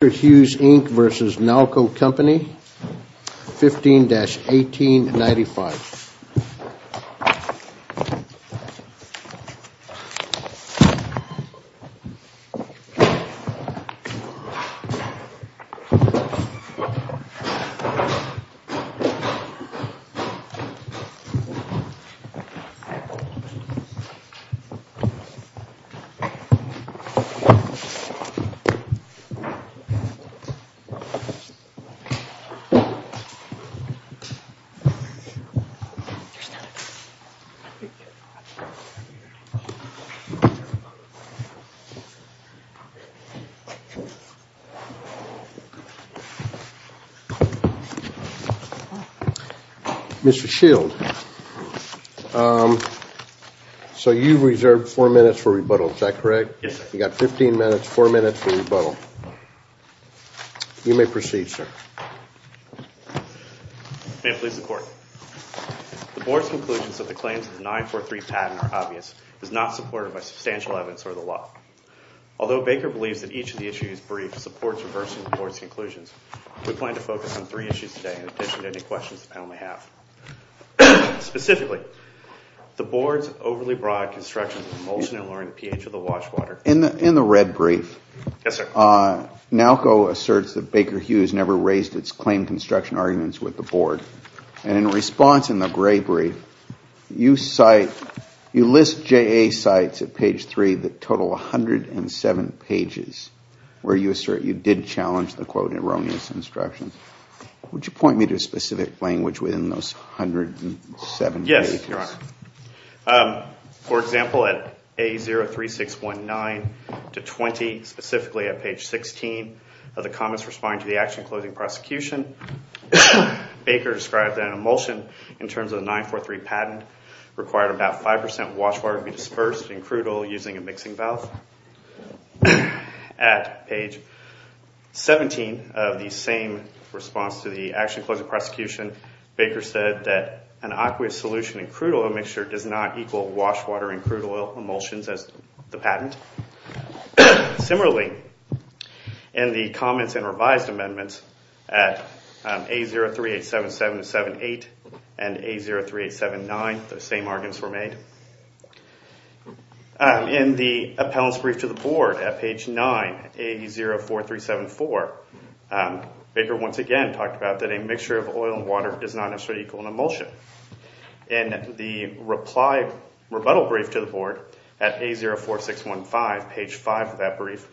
v. Nalco Company 15-1895. Mr. Shield, so you reserved four minutes for rebuttal, is that correct? Yes, sir. You've got 15 minutes, four minutes for rebuttal. You may proceed, sir. May it please the Court. The Board's conclusions that the claims of the 943 patent are obvious is not supported by substantial evidence or the law. Although Baker believes that each of the issues briefed supports reversing the Board's conclusions, we plan to focus on three issues today in addition to any questions the panel may have. Specifically, the Board's overly broad construction of emulsion and lowering the pH of the wash water. In the red brief, Nalco asserts that Baker Hughes never raised its claimed construction arguments with the Board. And in response, in the gray brief, you list JA sites at page 3 that total 107 pages where you assert you did challenge the, quote, erroneous instructions. Would you point me to a specific language within those 107 pages? Yes, Your Honor. For example, at A03619-20, specifically at page 16 of the comments responding to the action closing prosecution, Baker described that an emulsion in terms of the 943 patent required about 5% wash water to be dispersed and crudel using a mixing valve. At page 17 of the same response to the action closing prosecution, Baker said that an aqueous solution in crude oil mixture does not equal wash water in crude oil emulsions as the patent. Similarly, in the comments and revised amendments at A03877-78 and A03879, the same arguments were made. In the appellant's brief to the Board at page 9, A04374, Baker once again talked about that a mixture of oil and water does not necessarily equal an emulsion. In the rebuttal brief to the Board at A04615, page 5 of that brief,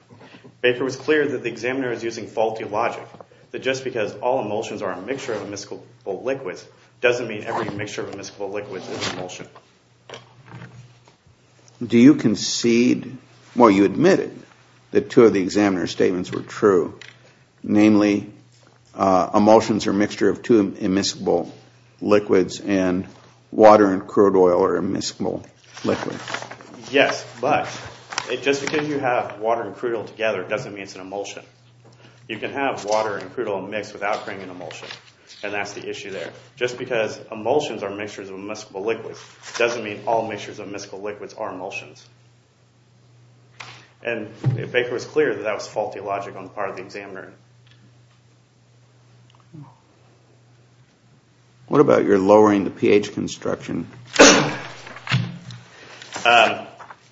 Baker was clear that the examiner is using faulty logic, that just because all emulsions are a mixture of emiscible liquids doesn't mean every mixture of emiscible liquids is emulsion. Do you concede, well you admitted that two of the examiner's statements were true, namely emulsions are a mixture of two emiscible liquids and water and crude oil are emiscible liquids. Yes, but just because you have water and crude oil together doesn't mean it's an emulsion. You can have water and crude oil mixed without creating an emulsion, and that's the issue there. Just because emulsions are a mixture of emiscible liquids doesn't mean all mixtures of emiscible liquids are emulsions. And Baker was clear that that was faulty logic on the part of the examiner. What about your lowering the pH construction?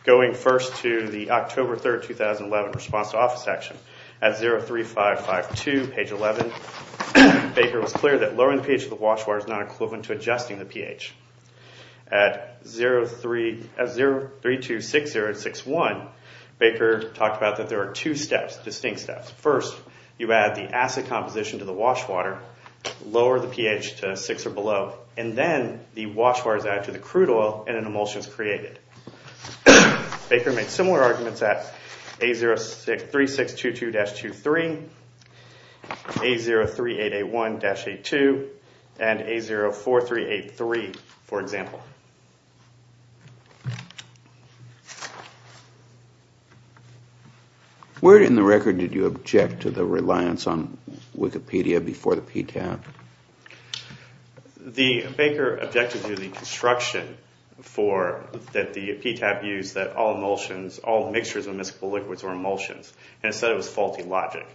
Going first to the October 3, 2011 response to office action, at A03552, page 11, Baker was clear that lowering the pH of the wash water is not equivalent to adjusting the pH. At 0326061, Baker talked about that there are two steps, distinct steps. First, you add the acid composition to the wash water, lower the pH to 6 or below, and then the wash water is added to the crude oil and an emulsion is created. Baker made similar arguments at A063622-23, A03881-82, and A04383, for example. Where in the record did you object to the reliance on Wikipedia before the PTAB? The Baker objected to the construction that the PTAB used that all emulsions, all mixtures of emiscible liquids were emulsions, and said it was faulty logic.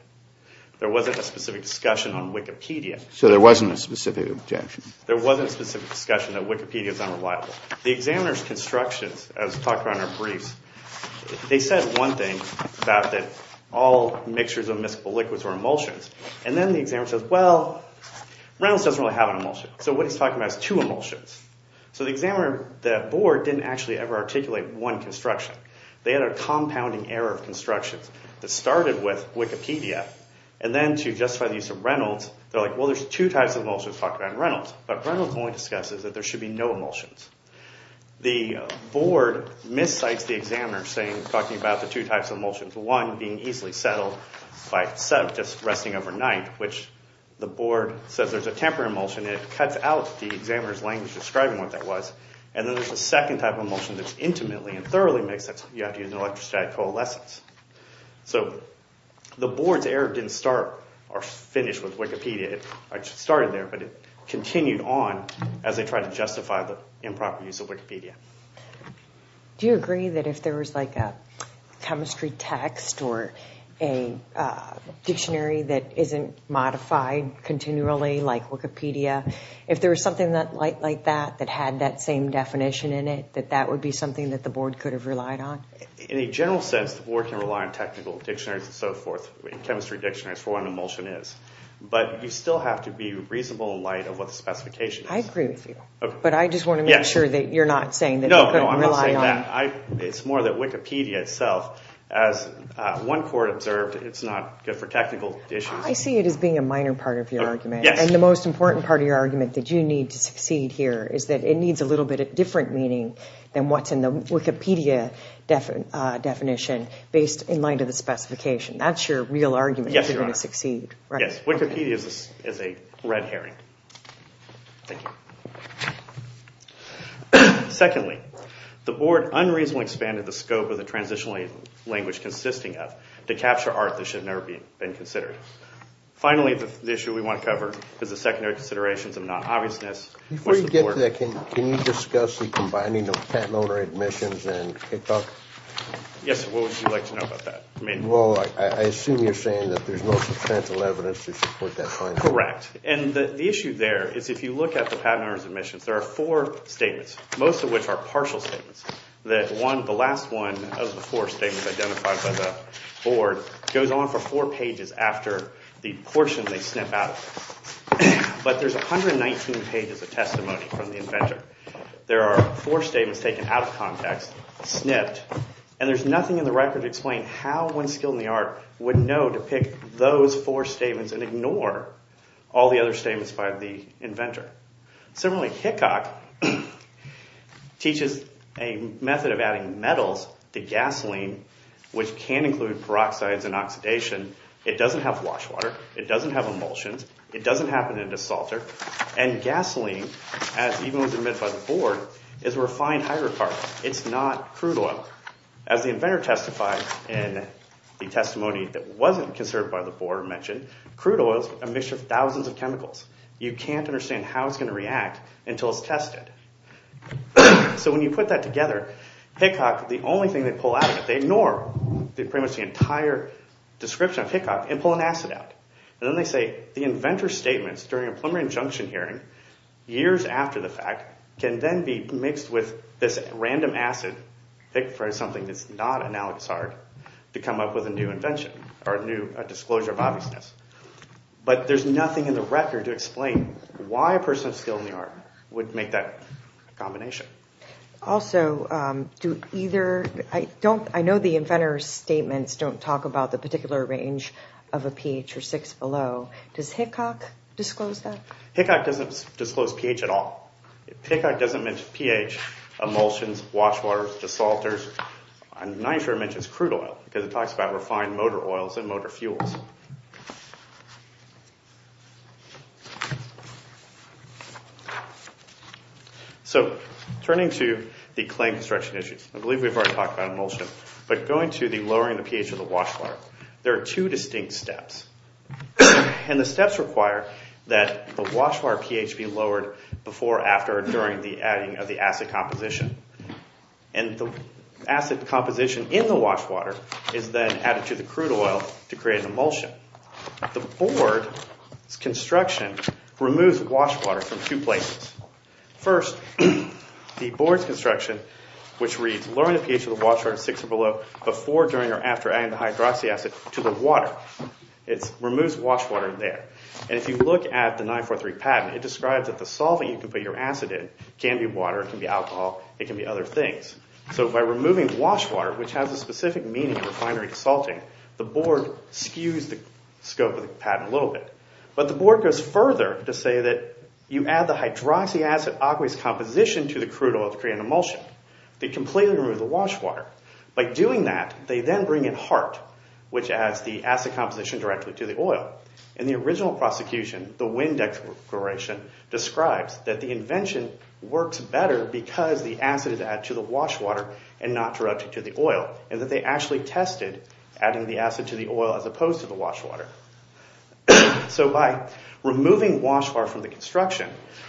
There wasn't a specific discussion on Wikipedia. So there wasn't a specific objection? There wasn't a specific discussion that Wikipedia is unreliable. The examiner's constructions, as talked about in our briefs, they said one thing about that all mixtures of emiscible liquids were emulsions, and then the examiner says, well, Reynolds doesn't really have an emulsion. So what he's talking about is two emulsions. So the board didn't actually ever articulate one construction. They had a compounding error of constructions that started with Wikipedia, and then to justify the use of Reynolds, they're like, well, there's two types of emulsions talked about in Reynolds, but Reynolds only discusses that there should be no emulsions. The board miscites the examiner talking about the two types of emulsions, one being easily settled by just resting overnight, which the board says there's a temporary emulsion, and it cuts out the examiner's language describing what that was, and then there's a second type of emulsion that's intimately and thoroughly mixed. You have to use an electrostatic coalescence. So the board's error didn't start or finish with Wikipedia. It started there, but it continued on as they tried to justify the improper use of Wikipedia. Do you agree that if there was like a chemistry text or a dictionary that isn't modified continually like Wikipedia, if there was something like that that had that same definition in it, that that would be something that the board could have relied on? In a general sense, the board can rely on technical dictionaries and so forth and chemistry dictionaries for what an emulsion is, but you still have to be reasonable in light of what the specification is. I agree with you, but I just want to make sure that you're not saying that they couldn't rely on— No, I'm not saying that. It's more that Wikipedia itself, as one court observed, it's not good for technical issues. I see it as being a minor part of your argument, and the most important part of your argument that you need to succeed here is that it needs a little bit of different meaning than what's in the Wikipedia definition based in light of the specification. That's your real argument that you're going to succeed, right? Yes, Wikipedia is a red herring. Secondly, the board unreasonably expanded the scope of the transitional language consisting of to capture art that should never have been considered. Finally, the issue we want to cover is the secondary considerations of non-obviousness. Before you get to that, can you discuss the combining of patent owner admissions and kickoff? Yes, what would you like to know about that? Well, I assume you're saying that there's no substantial evidence to support that finding. Correct, and the issue there is if you look at the patent owner's admissions, there are four statements, most of which are partial statements. The last one of the four statements identified by the board goes on for four pages after the portion they snip out of it. But there's 119 pages of testimony from the inventor. There are four statements taken out of context, snipped, and there's nothing in the record to explain how one skilled in the art would know to pick those four statements and ignore all the other statements by the inventor. Similarly, Hickok teaches a method of adding metals to gasoline, which can include peroxides and oxidation. It doesn't have wash water. It doesn't have emulsions. It doesn't happen in a salter. And gasoline, as even was admitted by the board, is a refined hydrocarbon. It's not crude oil. As the inventor testified in the testimony that wasn't conserved by the board or mentioned, crude oil is a mixture of thousands of chemicals. You can't understand how it's going to react until it's tested. So when you put that together, Hickok, the only thing they pull out of it, they ignore pretty much the entire description of Hickok and pull an acid out. And then they say the inventor's statements during a preliminary injunction hearing, years after the fact, can then be mixed with this random acid, picked for something that's not analogous art, to come up with a new invention or a new disclosure of obviousness. But there's nothing in the record to explain why a person of skill in the art would make that combination. Also, I know the inventor's statements don't talk about the particular range of a pH or 6 below. Does Hickok disclose that? Hickok doesn't disclose pH at all. Hickok doesn't mention pH, emulsions, wash waters, desalters. I'm not even sure it mentions crude oil because it talks about refined motor oils and motor fuels. So turning to the claim construction issues, I believe we've already talked about emulsion, but going to the lowering the pH of the wash water, there are two distinct steps. And the steps require that the wash water pH be lowered before, after, or during the adding of the acid composition. And the acid composition in the wash water is then added to the crude oil to create an emulsion. The board's construction removes wash water from two places. First, the board's construction, which reads lowering the pH of the wash water at 6 or below, before, during, or after adding the hydroxy acid to the water. It removes wash water there. And if you look at the 943 patent, it describes that the solvent you can put your acid in can be water, can be alcohol, it can be other things. So by removing wash water, which has a specific meaning of refinery desalting, the board skews the scope of the patent a little bit. But the board goes further to say that you add the hydroxy acid aqueous composition to the crude oil to create an emulsion. They completely remove the wash water. By doing that, they then bring in HART, which adds the acid composition directly to the oil. In the original prosecution, the Winn Declaration describes that the invention works better because the acid is added to the wash water and not directly to the oil, and that they actually tested adding the acid to the oil as opposed to the wash water. So by removing wash water from the construction,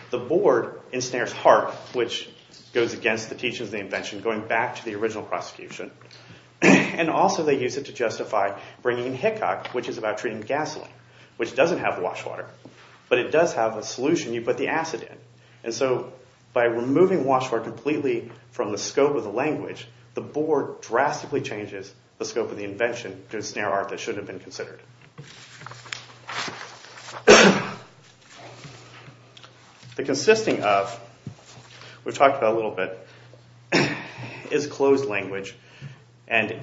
the board ensnares HART, which goes against the teachings of the invention, going back to the original prosecution. And also they use it to justify bringing in HECOC, which is about treating gasoline, which doesn't have wash water, but it does have a solution you put the acid in. And so by removing wash water completely from the scope of the language, the board drastically changes the scope of the invention to ensnare HART that shouldn't have been considered. The consisting of, we've talked about a little bit, is closed language. And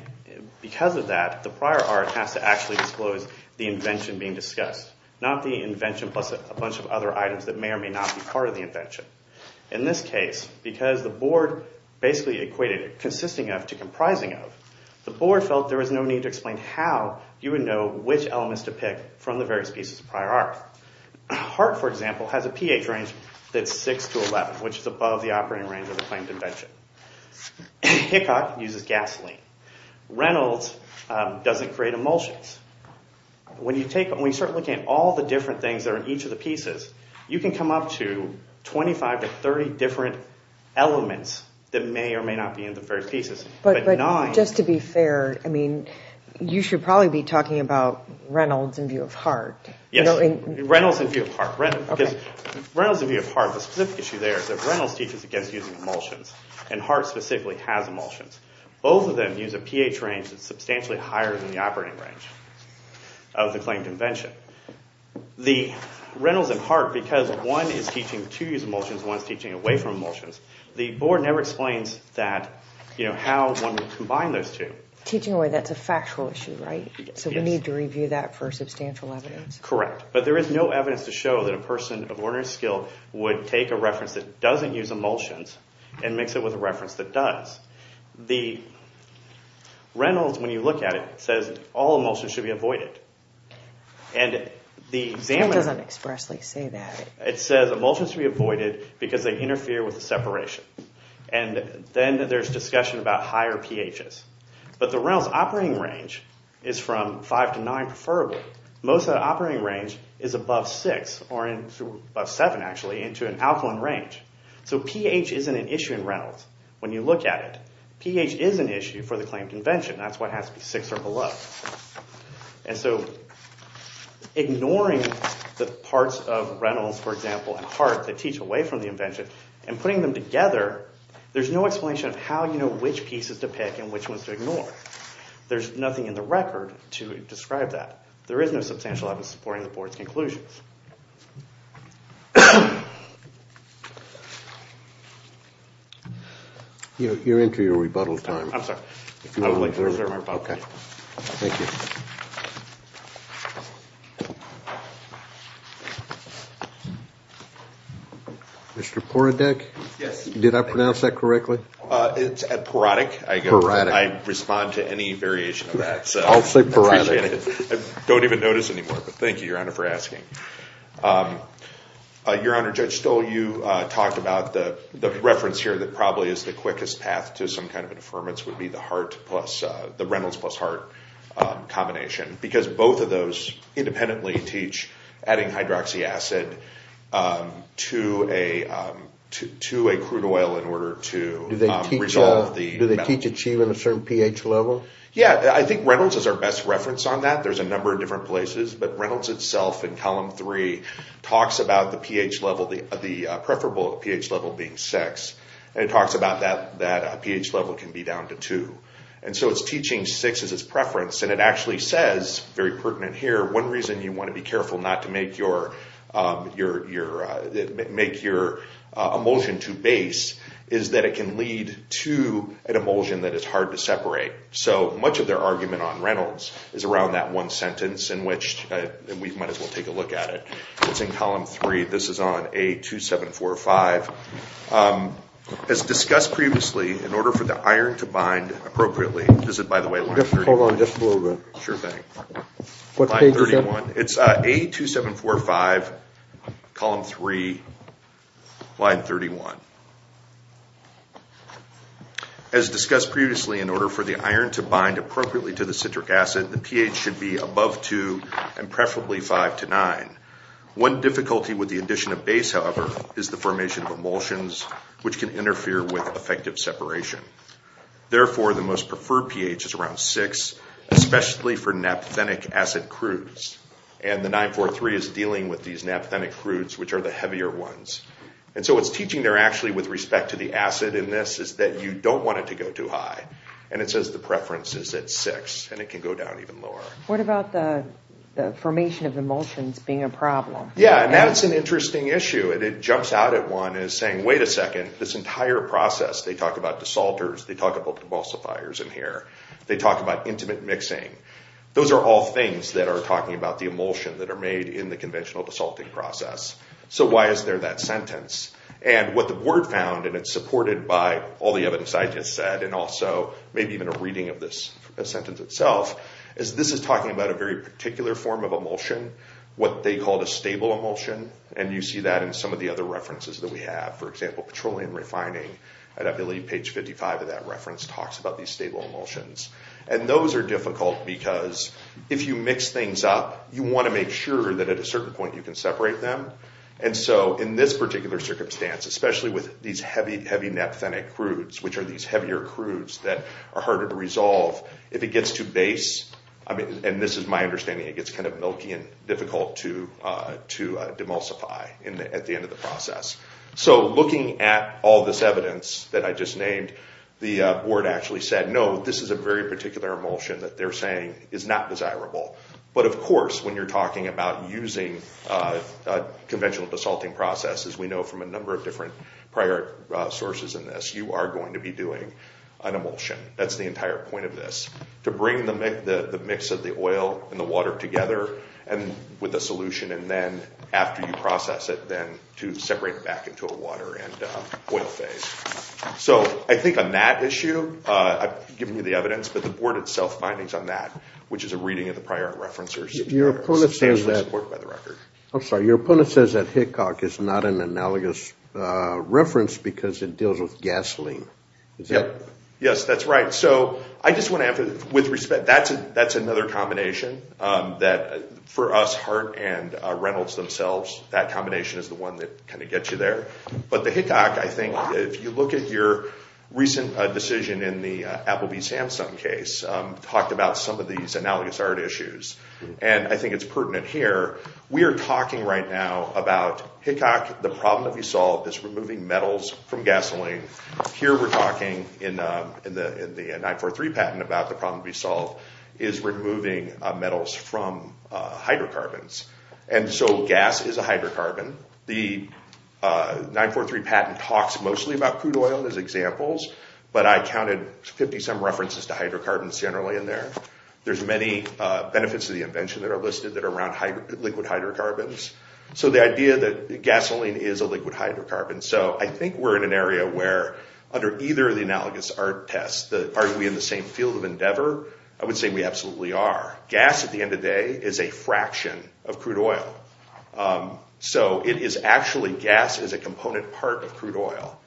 because of that, the prior art has to actually disclose the invention being discussed, not the invention plus a bunch of other items that may or may not be part of the invention. In this case, because the board basically equated consisting of to comprising of, the board felt there was no need to explain how you would know which of the two or which elements to pick from the various pieces of prior art. HART, for example, has a pH range that's 6 to 11, which is above the operating range of the claimed invention. HECOC uses gasoline. Reynolds doesn't create emulsions. When you start looking at all the different things that are in each of the pieces, you can come up to 25 to 30 different elements that may or may not be in the various pieces. But just to be fair, you should probably be talking about Reynolds in view of HART. Yes, Reynolds in view of HART. Because Reynolds in view of HART, the specific issue there is that Reynolds teaches against using emulsions, and HART specifically has emulsions. Both of them use a pH range that's substantially higher than the operating range of the claimed invention. The Reynolds and HART, because one is teaching to use emulsions and one is teaching away from emulsions, the board never explains how one would combine those two. Teaching away, that's a factual issue, right? Yes. So we need to review that for substantial evidence? Correct. But there is no evidence to show that a person of ordinary skill would take a reference that doesn't use emulsions and mix it with a reference that does. The Reynolds, when you look at it, says all emulsions should be avoided. It doesn't expressly say that. It says emulsions should be avoided because they interfere with the separation. And then there's discussion about higher pHs. But the Reynolds operating range is from 5 to 9 preferably. Most of the operating range is above 6, or above 7 actually, into an alkaline range. So pH isn't an issue in Reynolds when you look at it. pH is an issue for the claimed invention. That's why it has to be 6 or below. And so ignoring the parts of Reynolds, for example, and Hart that teach away from the invention and putting them together, there's no explanation of how you know which pieces to pick and which ones to ignore. There's nothing in the record to describe that. There is no substantial evidence supporting the board's conclusions. You're into your rebuttal time. I'm sorry. Okay. Thank you. Mr. Poradek? Yes. Did I pronounce that correctly? It's Poradek. I respond to any variation of that. I'll say Poradek. I don't even notice anymore, but thank you, Your Honor, for asking. Your Honor, Judge Stoll, you talked about the reference here that probably is the quickest path to some kind of an affirmance would be the Reynolds plus Hart combination because both of those independently teach adding hydroxy acid to a crude oil in order to resolve the metal. Do they teach achieving a certain pH level? Yes. I think Reynolds is our best reference on that. There's a number of different places, but Reynolds itself in Column 3 talks about the preferable pH level being 6. It talks about that pH level can be down to 2. So it's teaching 6 as its preference, and it actually says, very pertinent here, one reason you want to be careful not to make your emulsion too base is that it can lead to an emulsion that is hard to separate. So much of their argument on Reynolds is around that one sentence, and we might as well take a look at it. It's in Column 3. This is on A2745. As discussed previously, in order for the iron to bind appropriately, this is, by the way, line 31. Hold on just a little bit. Sure thing. What page is that? It's A2745, Column 3, line 31. As discussed previously, in order for the iron to bind appropriately to the citric acid, the pH should be above 2 and preferably 5 to 9. One difficulty with the addition of base, however, is the formation of emulsions, which can interfere with effective separation. Therefore, the most preferred pH is around 6, especially for naphthenic acid crudes, and the 943 is dealing with these naphthenic crudes, which are the heavier ones. And so what it's teaching there actually with respect to the acid in this is that you don't want it to go too high, and it says the preference is at 6, and it can go down even lower. What about the formation of emulsions being a problem? Yeah, and that's an interesting issue. It jumps out at one as saying, wait a second, this entire process, they talk about desalters, they talk about emulsifiers in here, they talk about intimate mixing. Those are all things that are talking about the emulsion that are made in the conventional desalting process. So why is there that sentence? And what the board found, and it's supported by all the evidence I just said and also maybe even a reading of this sentence itself, is this is talking about a very particular form of emulsion, what they called a stable emulsion, and you see that in some of the other references that we have. For example, petroleum refining, and I believe page 55 of that reference talks about these stable emulsions. And those are difficult because if you mix things up, you want to make sure that at a certain point you can separate them. And so in this particular circumstance, especially with these heavy, heavy naphthenic crudes, which are these heavier crudes that are harder to resolve, if it gets too base, and this is my understanding, it gets kind of milky and difficult to demulsify at the end of the process. So looking at all this evidence that I just named, the board actually said, no, this is a very particular emulsion that they're saying is not desirable. But of course, when you're talking about using conventional desalting processes, we know from a number of different prior sources in this, you are going to be doing an emulsion. That's the entire point of this, to bring the mix of the oil and the water together with a solution, and then after you process it, then to separate it back into a water and oil phase. So I think on that issue, I've given you the evidence, but the board itself's findings on that, which is a reading of the prior references. I'm sorry, your opponent says that Hickok is not an analogous reference because it deals with gasoline. Yes, that's right. So I just want to add, with respect, that's another combination that, for us, Hart and Reynolds themselves, that combination is the one that kind of gets you there. But the Hickok, I think, if you look at your recent decision in the Applebee's Samsung case, talked about some of these analogous art issues, and I think it's pertinent here. We are talking right now about Hickok, the problem that we solved is removing metals from gasoline. Here we're talking in the 943 patent about the problem we solved is removing metals from hydrocarbons. And so gas is a hydrocarbon. The 943 patent talks mostly about crude oil as examples, but I counted 50-some references to hydrocarbons generally in there. There's many benefits of the invention that are listed that are around liquid hydrocarbons. So the idea that gasoline is a liquid hydrocarbon. So I think we're in an area where, under either of the analogous art tests, are we in the same field of endeavor? I would say we absolutely are. Gas, at the end of the day, is a fraction of crude oil. So it is actually, gas is a component part of crude oil.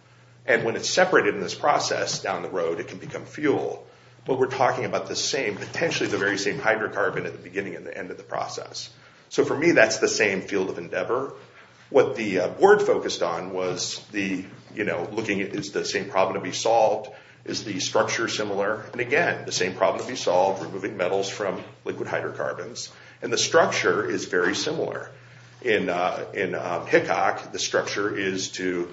And when it's separated in this process down the road, it can become fuel. But we're talking about the same, potentially the very same hydrocarbon at the beginning and the end of the process. So for me, that's the same field of endeavor. What the board focused on was the, you know, looking at is the same problem to be solved? Is the structure similar? And again, the same problem to be solved, removing metals from liquid hydrocarbons. And the structure is very similar. In Hickok, the structure is to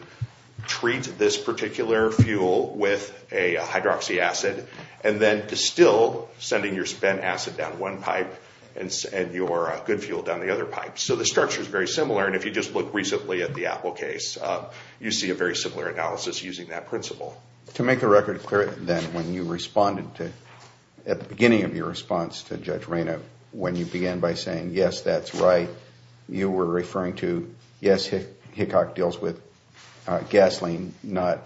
treat this particular fuel with a hydroxy acid and then distill, sending your spent acid down one pipe and your good fuel down the other pipe. So the structure is very similar. And if you just look recently at the Apple case, you see a very similar analysis using that principle. To make the record clear, then, when you responded to, at the beginning of your response to Judge Reyna, when you began by saying, yes, that's right, you were referring to, yes, Hickok deals with gasoline, not,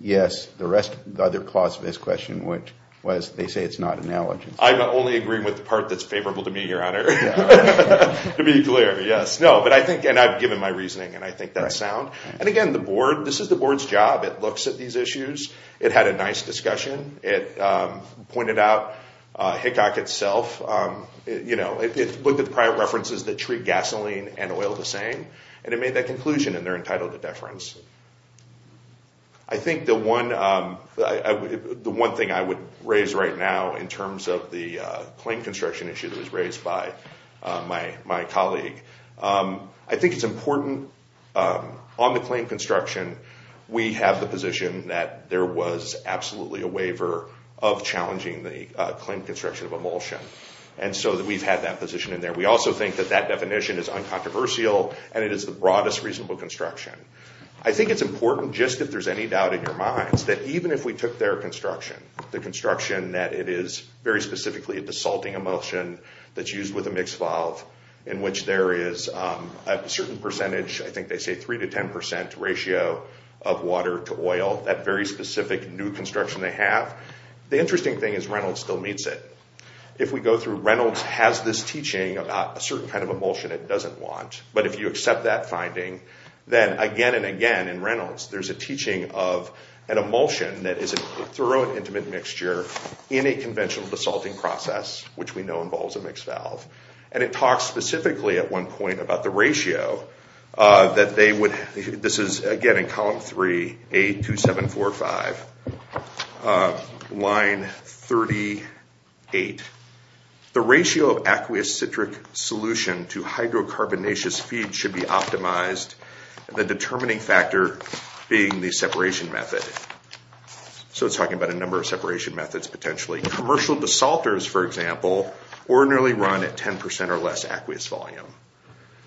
yes, the other clause of his question, which was, they say it's not analogous. I'm only agreeing with the part that's favorable to me, Your Honor. To be clear, yes. No, but I think, and I've given my reasoning, and I think that's sound. And again, the board, this is the board's job. It looks at these issues. It had a nice discussion. It pointed out Hickok itself, you know, it looked at the prior references that treat gasoline and oil the same, and it made that conclusion, and they're entitled to deference. I think the one thing I would raise right now in terms of the claim construction issue that was raised by my colleague, I think it's important on the claim construction, we have the position that there was absolutely a waiver of challenging the claim construction of emulsion. And so we've had that position in there. We also think that that definition is uncontroversial, and it is the broadest reasonable construction. I think it's important, just if there's any doubt in your minds, that even if we took their construction, the construction that it is very specifically a desalting emulsion that's used with a mixed valve, in which there is a certain percentage, I think they say 3% to 10% ratio of water to oil, that very specific new construction they have, the interesting thing is Reynolds still meets it. If we go through Reynolds has this teaching about a certain kind of emulsion it doesn't want, but if you accept that finding, then again and again in Reynolds, there's a teaching of an emulsion that is a thorough and intimate mixture in a conventional desalting process, which we know involves a mixed valve. And it talks specifically at one point about the ratio that they would, this is again in column 3, A2745, line 38. The ratio of aqueous citric solution to hydrocarbonaceous feed should be optimized, the determining factor being the separation method. So it's talking about a number of separation methods potentially. Commercial desalters, for example, ordinarily run at 10% or less aqueous volume.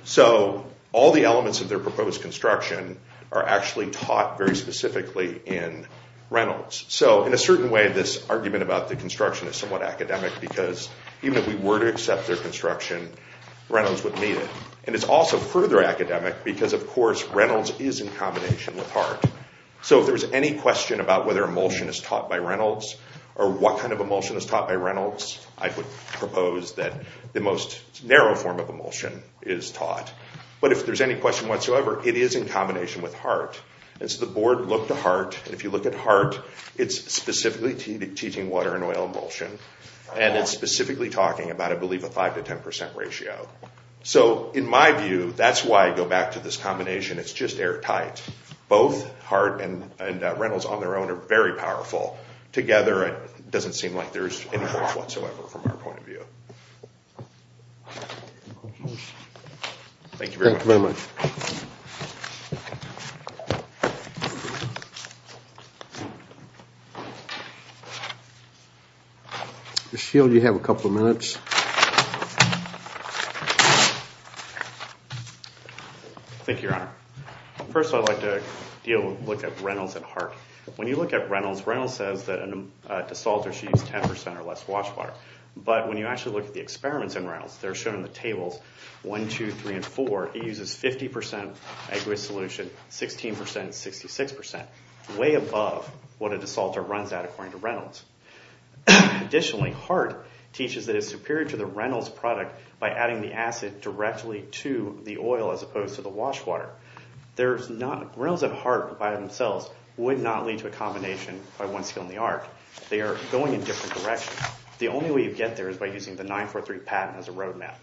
So all the elements of their proposed construction are actually taught very specifically in Reynolds. So in a certain way this argument about the construction is somewhat academic, because even if we were to accept their construction, Reynolds would meet it. And it's also further academic because of course Reynolds is in combination with Hart. So if there's any question about whether emulsion is taught by Reynolds, or what kind of emulsion is taught by Reynolds, I would propose that the most narrow form of emulsion is taught. But if there's any question whatsoever, it is in combination with Hart. And so the board looked at Hart, and if you look at Hart, it's specifically teaching water and oil emulsion, and it's specifically talking about I believe a 5% to 10% ratio. So in my view, that's why I go back to this combination, it's just airtight. Both Hart and Reynolds on their own are very powerful. Together it doesn't seem like there's any difference whatsoever from our point of view. Thank you very much. Thank you very much. Ms. Shield, you have a couple of minutes. Thank you, Your Honor. First I'd like to look at Reynolds and Hart. When you look at Reynolds, Reynolds says that a desalter should use 10% or less wash water. But when you actually look at the experiments in Reynolds, they're shown in the tables, 1, 2, 3, and 4, it uses 50% aqueous solution, 16%, 66%, way above what a desalter runs at according to Reynolds. Additionally, Hart teaches that it's superior to the Reynolds product by adding the acid directly to the oil as opposed to the wash water. Reynolds and Hart by themselves would not lead to a combination by one skill in the art. They are going in different directions. The only way you get there is by using the 9-4-3 patent as a roadmap.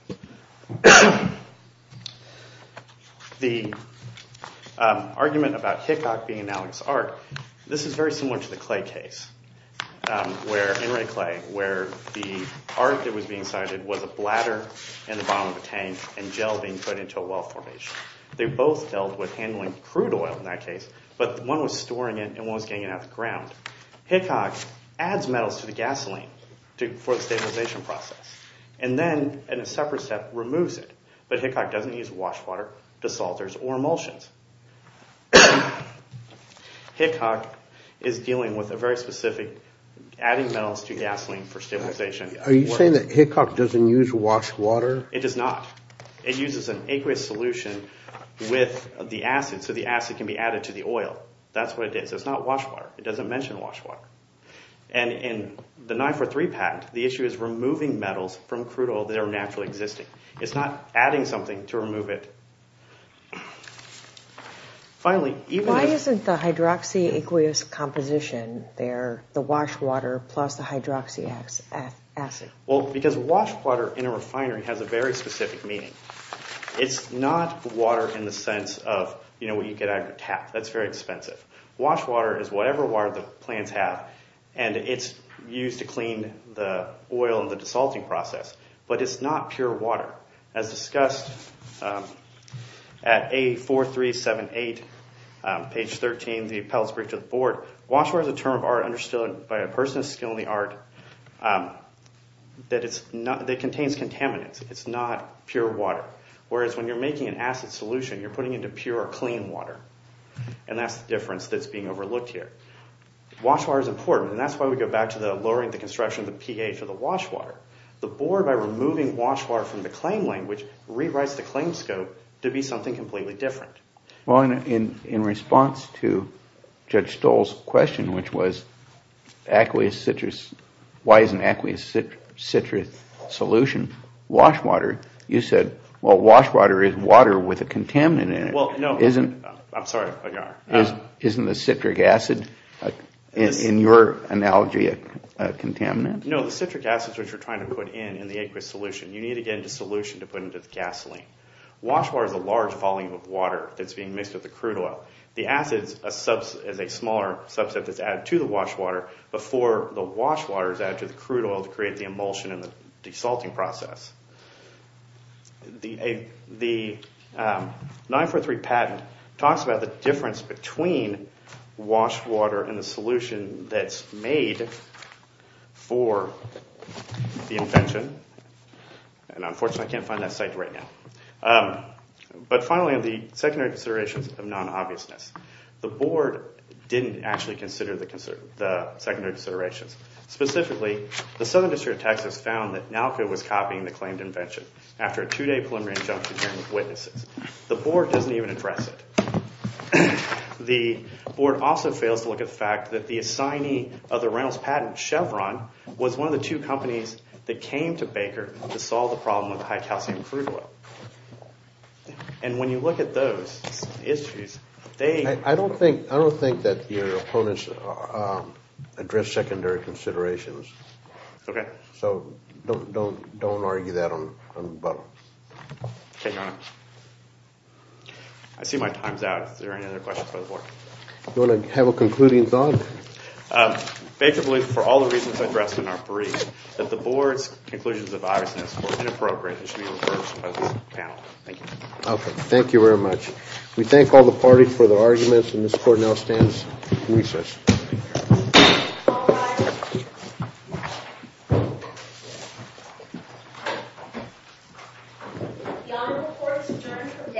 The argument about Hickok being an analogous art, this is very similar to the Clay case, where the art that was being cited was a bladder in the bottom of a tank and gel being put into a well formation. They both dealt with handling crude oil in that case, but one was storing it and one was getting it out of the ground. Hickok adds metals to the gasoline for the stabilization process and then in a separate step removes it. But Hickok doesn't use wash water, desalters, or emulsions. Hickok is dealing with a very specific adding metals to gasoline for stabilization. Are you saying that Hickok doesn't use wash water? It does not. It uses an aqueous solution with the acid so the acid can be added to the oil. That's what it is. It's not wash water. It doesn't mention wash water. In the 9-4-3 patent, the issue is removing metals from crude oil that are naturally existing. It's not adding something to remove it. Why isn't the hydroxy aqueous composition there, the wash water plus the hydroxy acid? Because wash water in a refinery has a very specific meaning. It's not water in the sense of what you get out of your tap. That's very expensive. Wash water is whatever water the plants have, and it's used to clean the oil in the desalting process, but it's not pure water. As discussed at 8-4-3-7-8, page 13 of the Appellate's Brief to the Board, wash water is a term of art understood by a person of skill in the art that contains contaminants. It's not pure water, whereas when you're making an acid solution, you're putting it into pure, clean water, and that's the difference that's being overlooked here. Wash water is important, and that's why we go back to lowering the construction of the PA for the wash water. The Board, by removing wash water from the claim language, rewrites the claim scope to be something completely different. Well, in response to Judge Stoll's question, which was why isn't aqueous citrus solution wash water, you said, well, wash water is water with a contaminant in it. I'm sorry. Isn't the citric acid, in your analogy, a contaminant? No, the citric acid is what you're trying to put in in the aqueous solution. Wash water is a large volume of water that's being mixed with the crude oil. The acid is a smaller subset that's added to the wash water before the wash water is added to the crude oil to create the emulsion and the desalting process. The 943 patent talks about the difference between wash water and the solution that's made for the invention, and unfortunately I can't find that site right now. But finally, the secondary considerations of non-obviousness. The Board didn't actually consider the secondary considerations. Specifically, the Southern District of Texas found that NALCA was copying the claimed invention after a two-day preliminary injunction hearing with witnesses. The Board doesn't even address it. The Board also fails to look at the fact that the assignee of the Reynolds patent, Chevron, was one of the two companies that came to Baker to solve the problem with the high-calcium crude oil. And when you look at those issues, they— I don't think that your opponents address secondary considerations. Okay. So don't argue that on— Okay, Your Honor. I see my time's out. Are there any other questions by the Board? Do you want to have a concluding thought? Baker believes, for all the reasons addressed in our brief, that the Board's conclusions of Iverson's Court are inappropriate and should be reversed by this panel. Thank you. Okay, thank you very much. We thank all the parties for their arguments, and this Court now stands recessed. All rise. The Honorable Court is adjourned from day to day.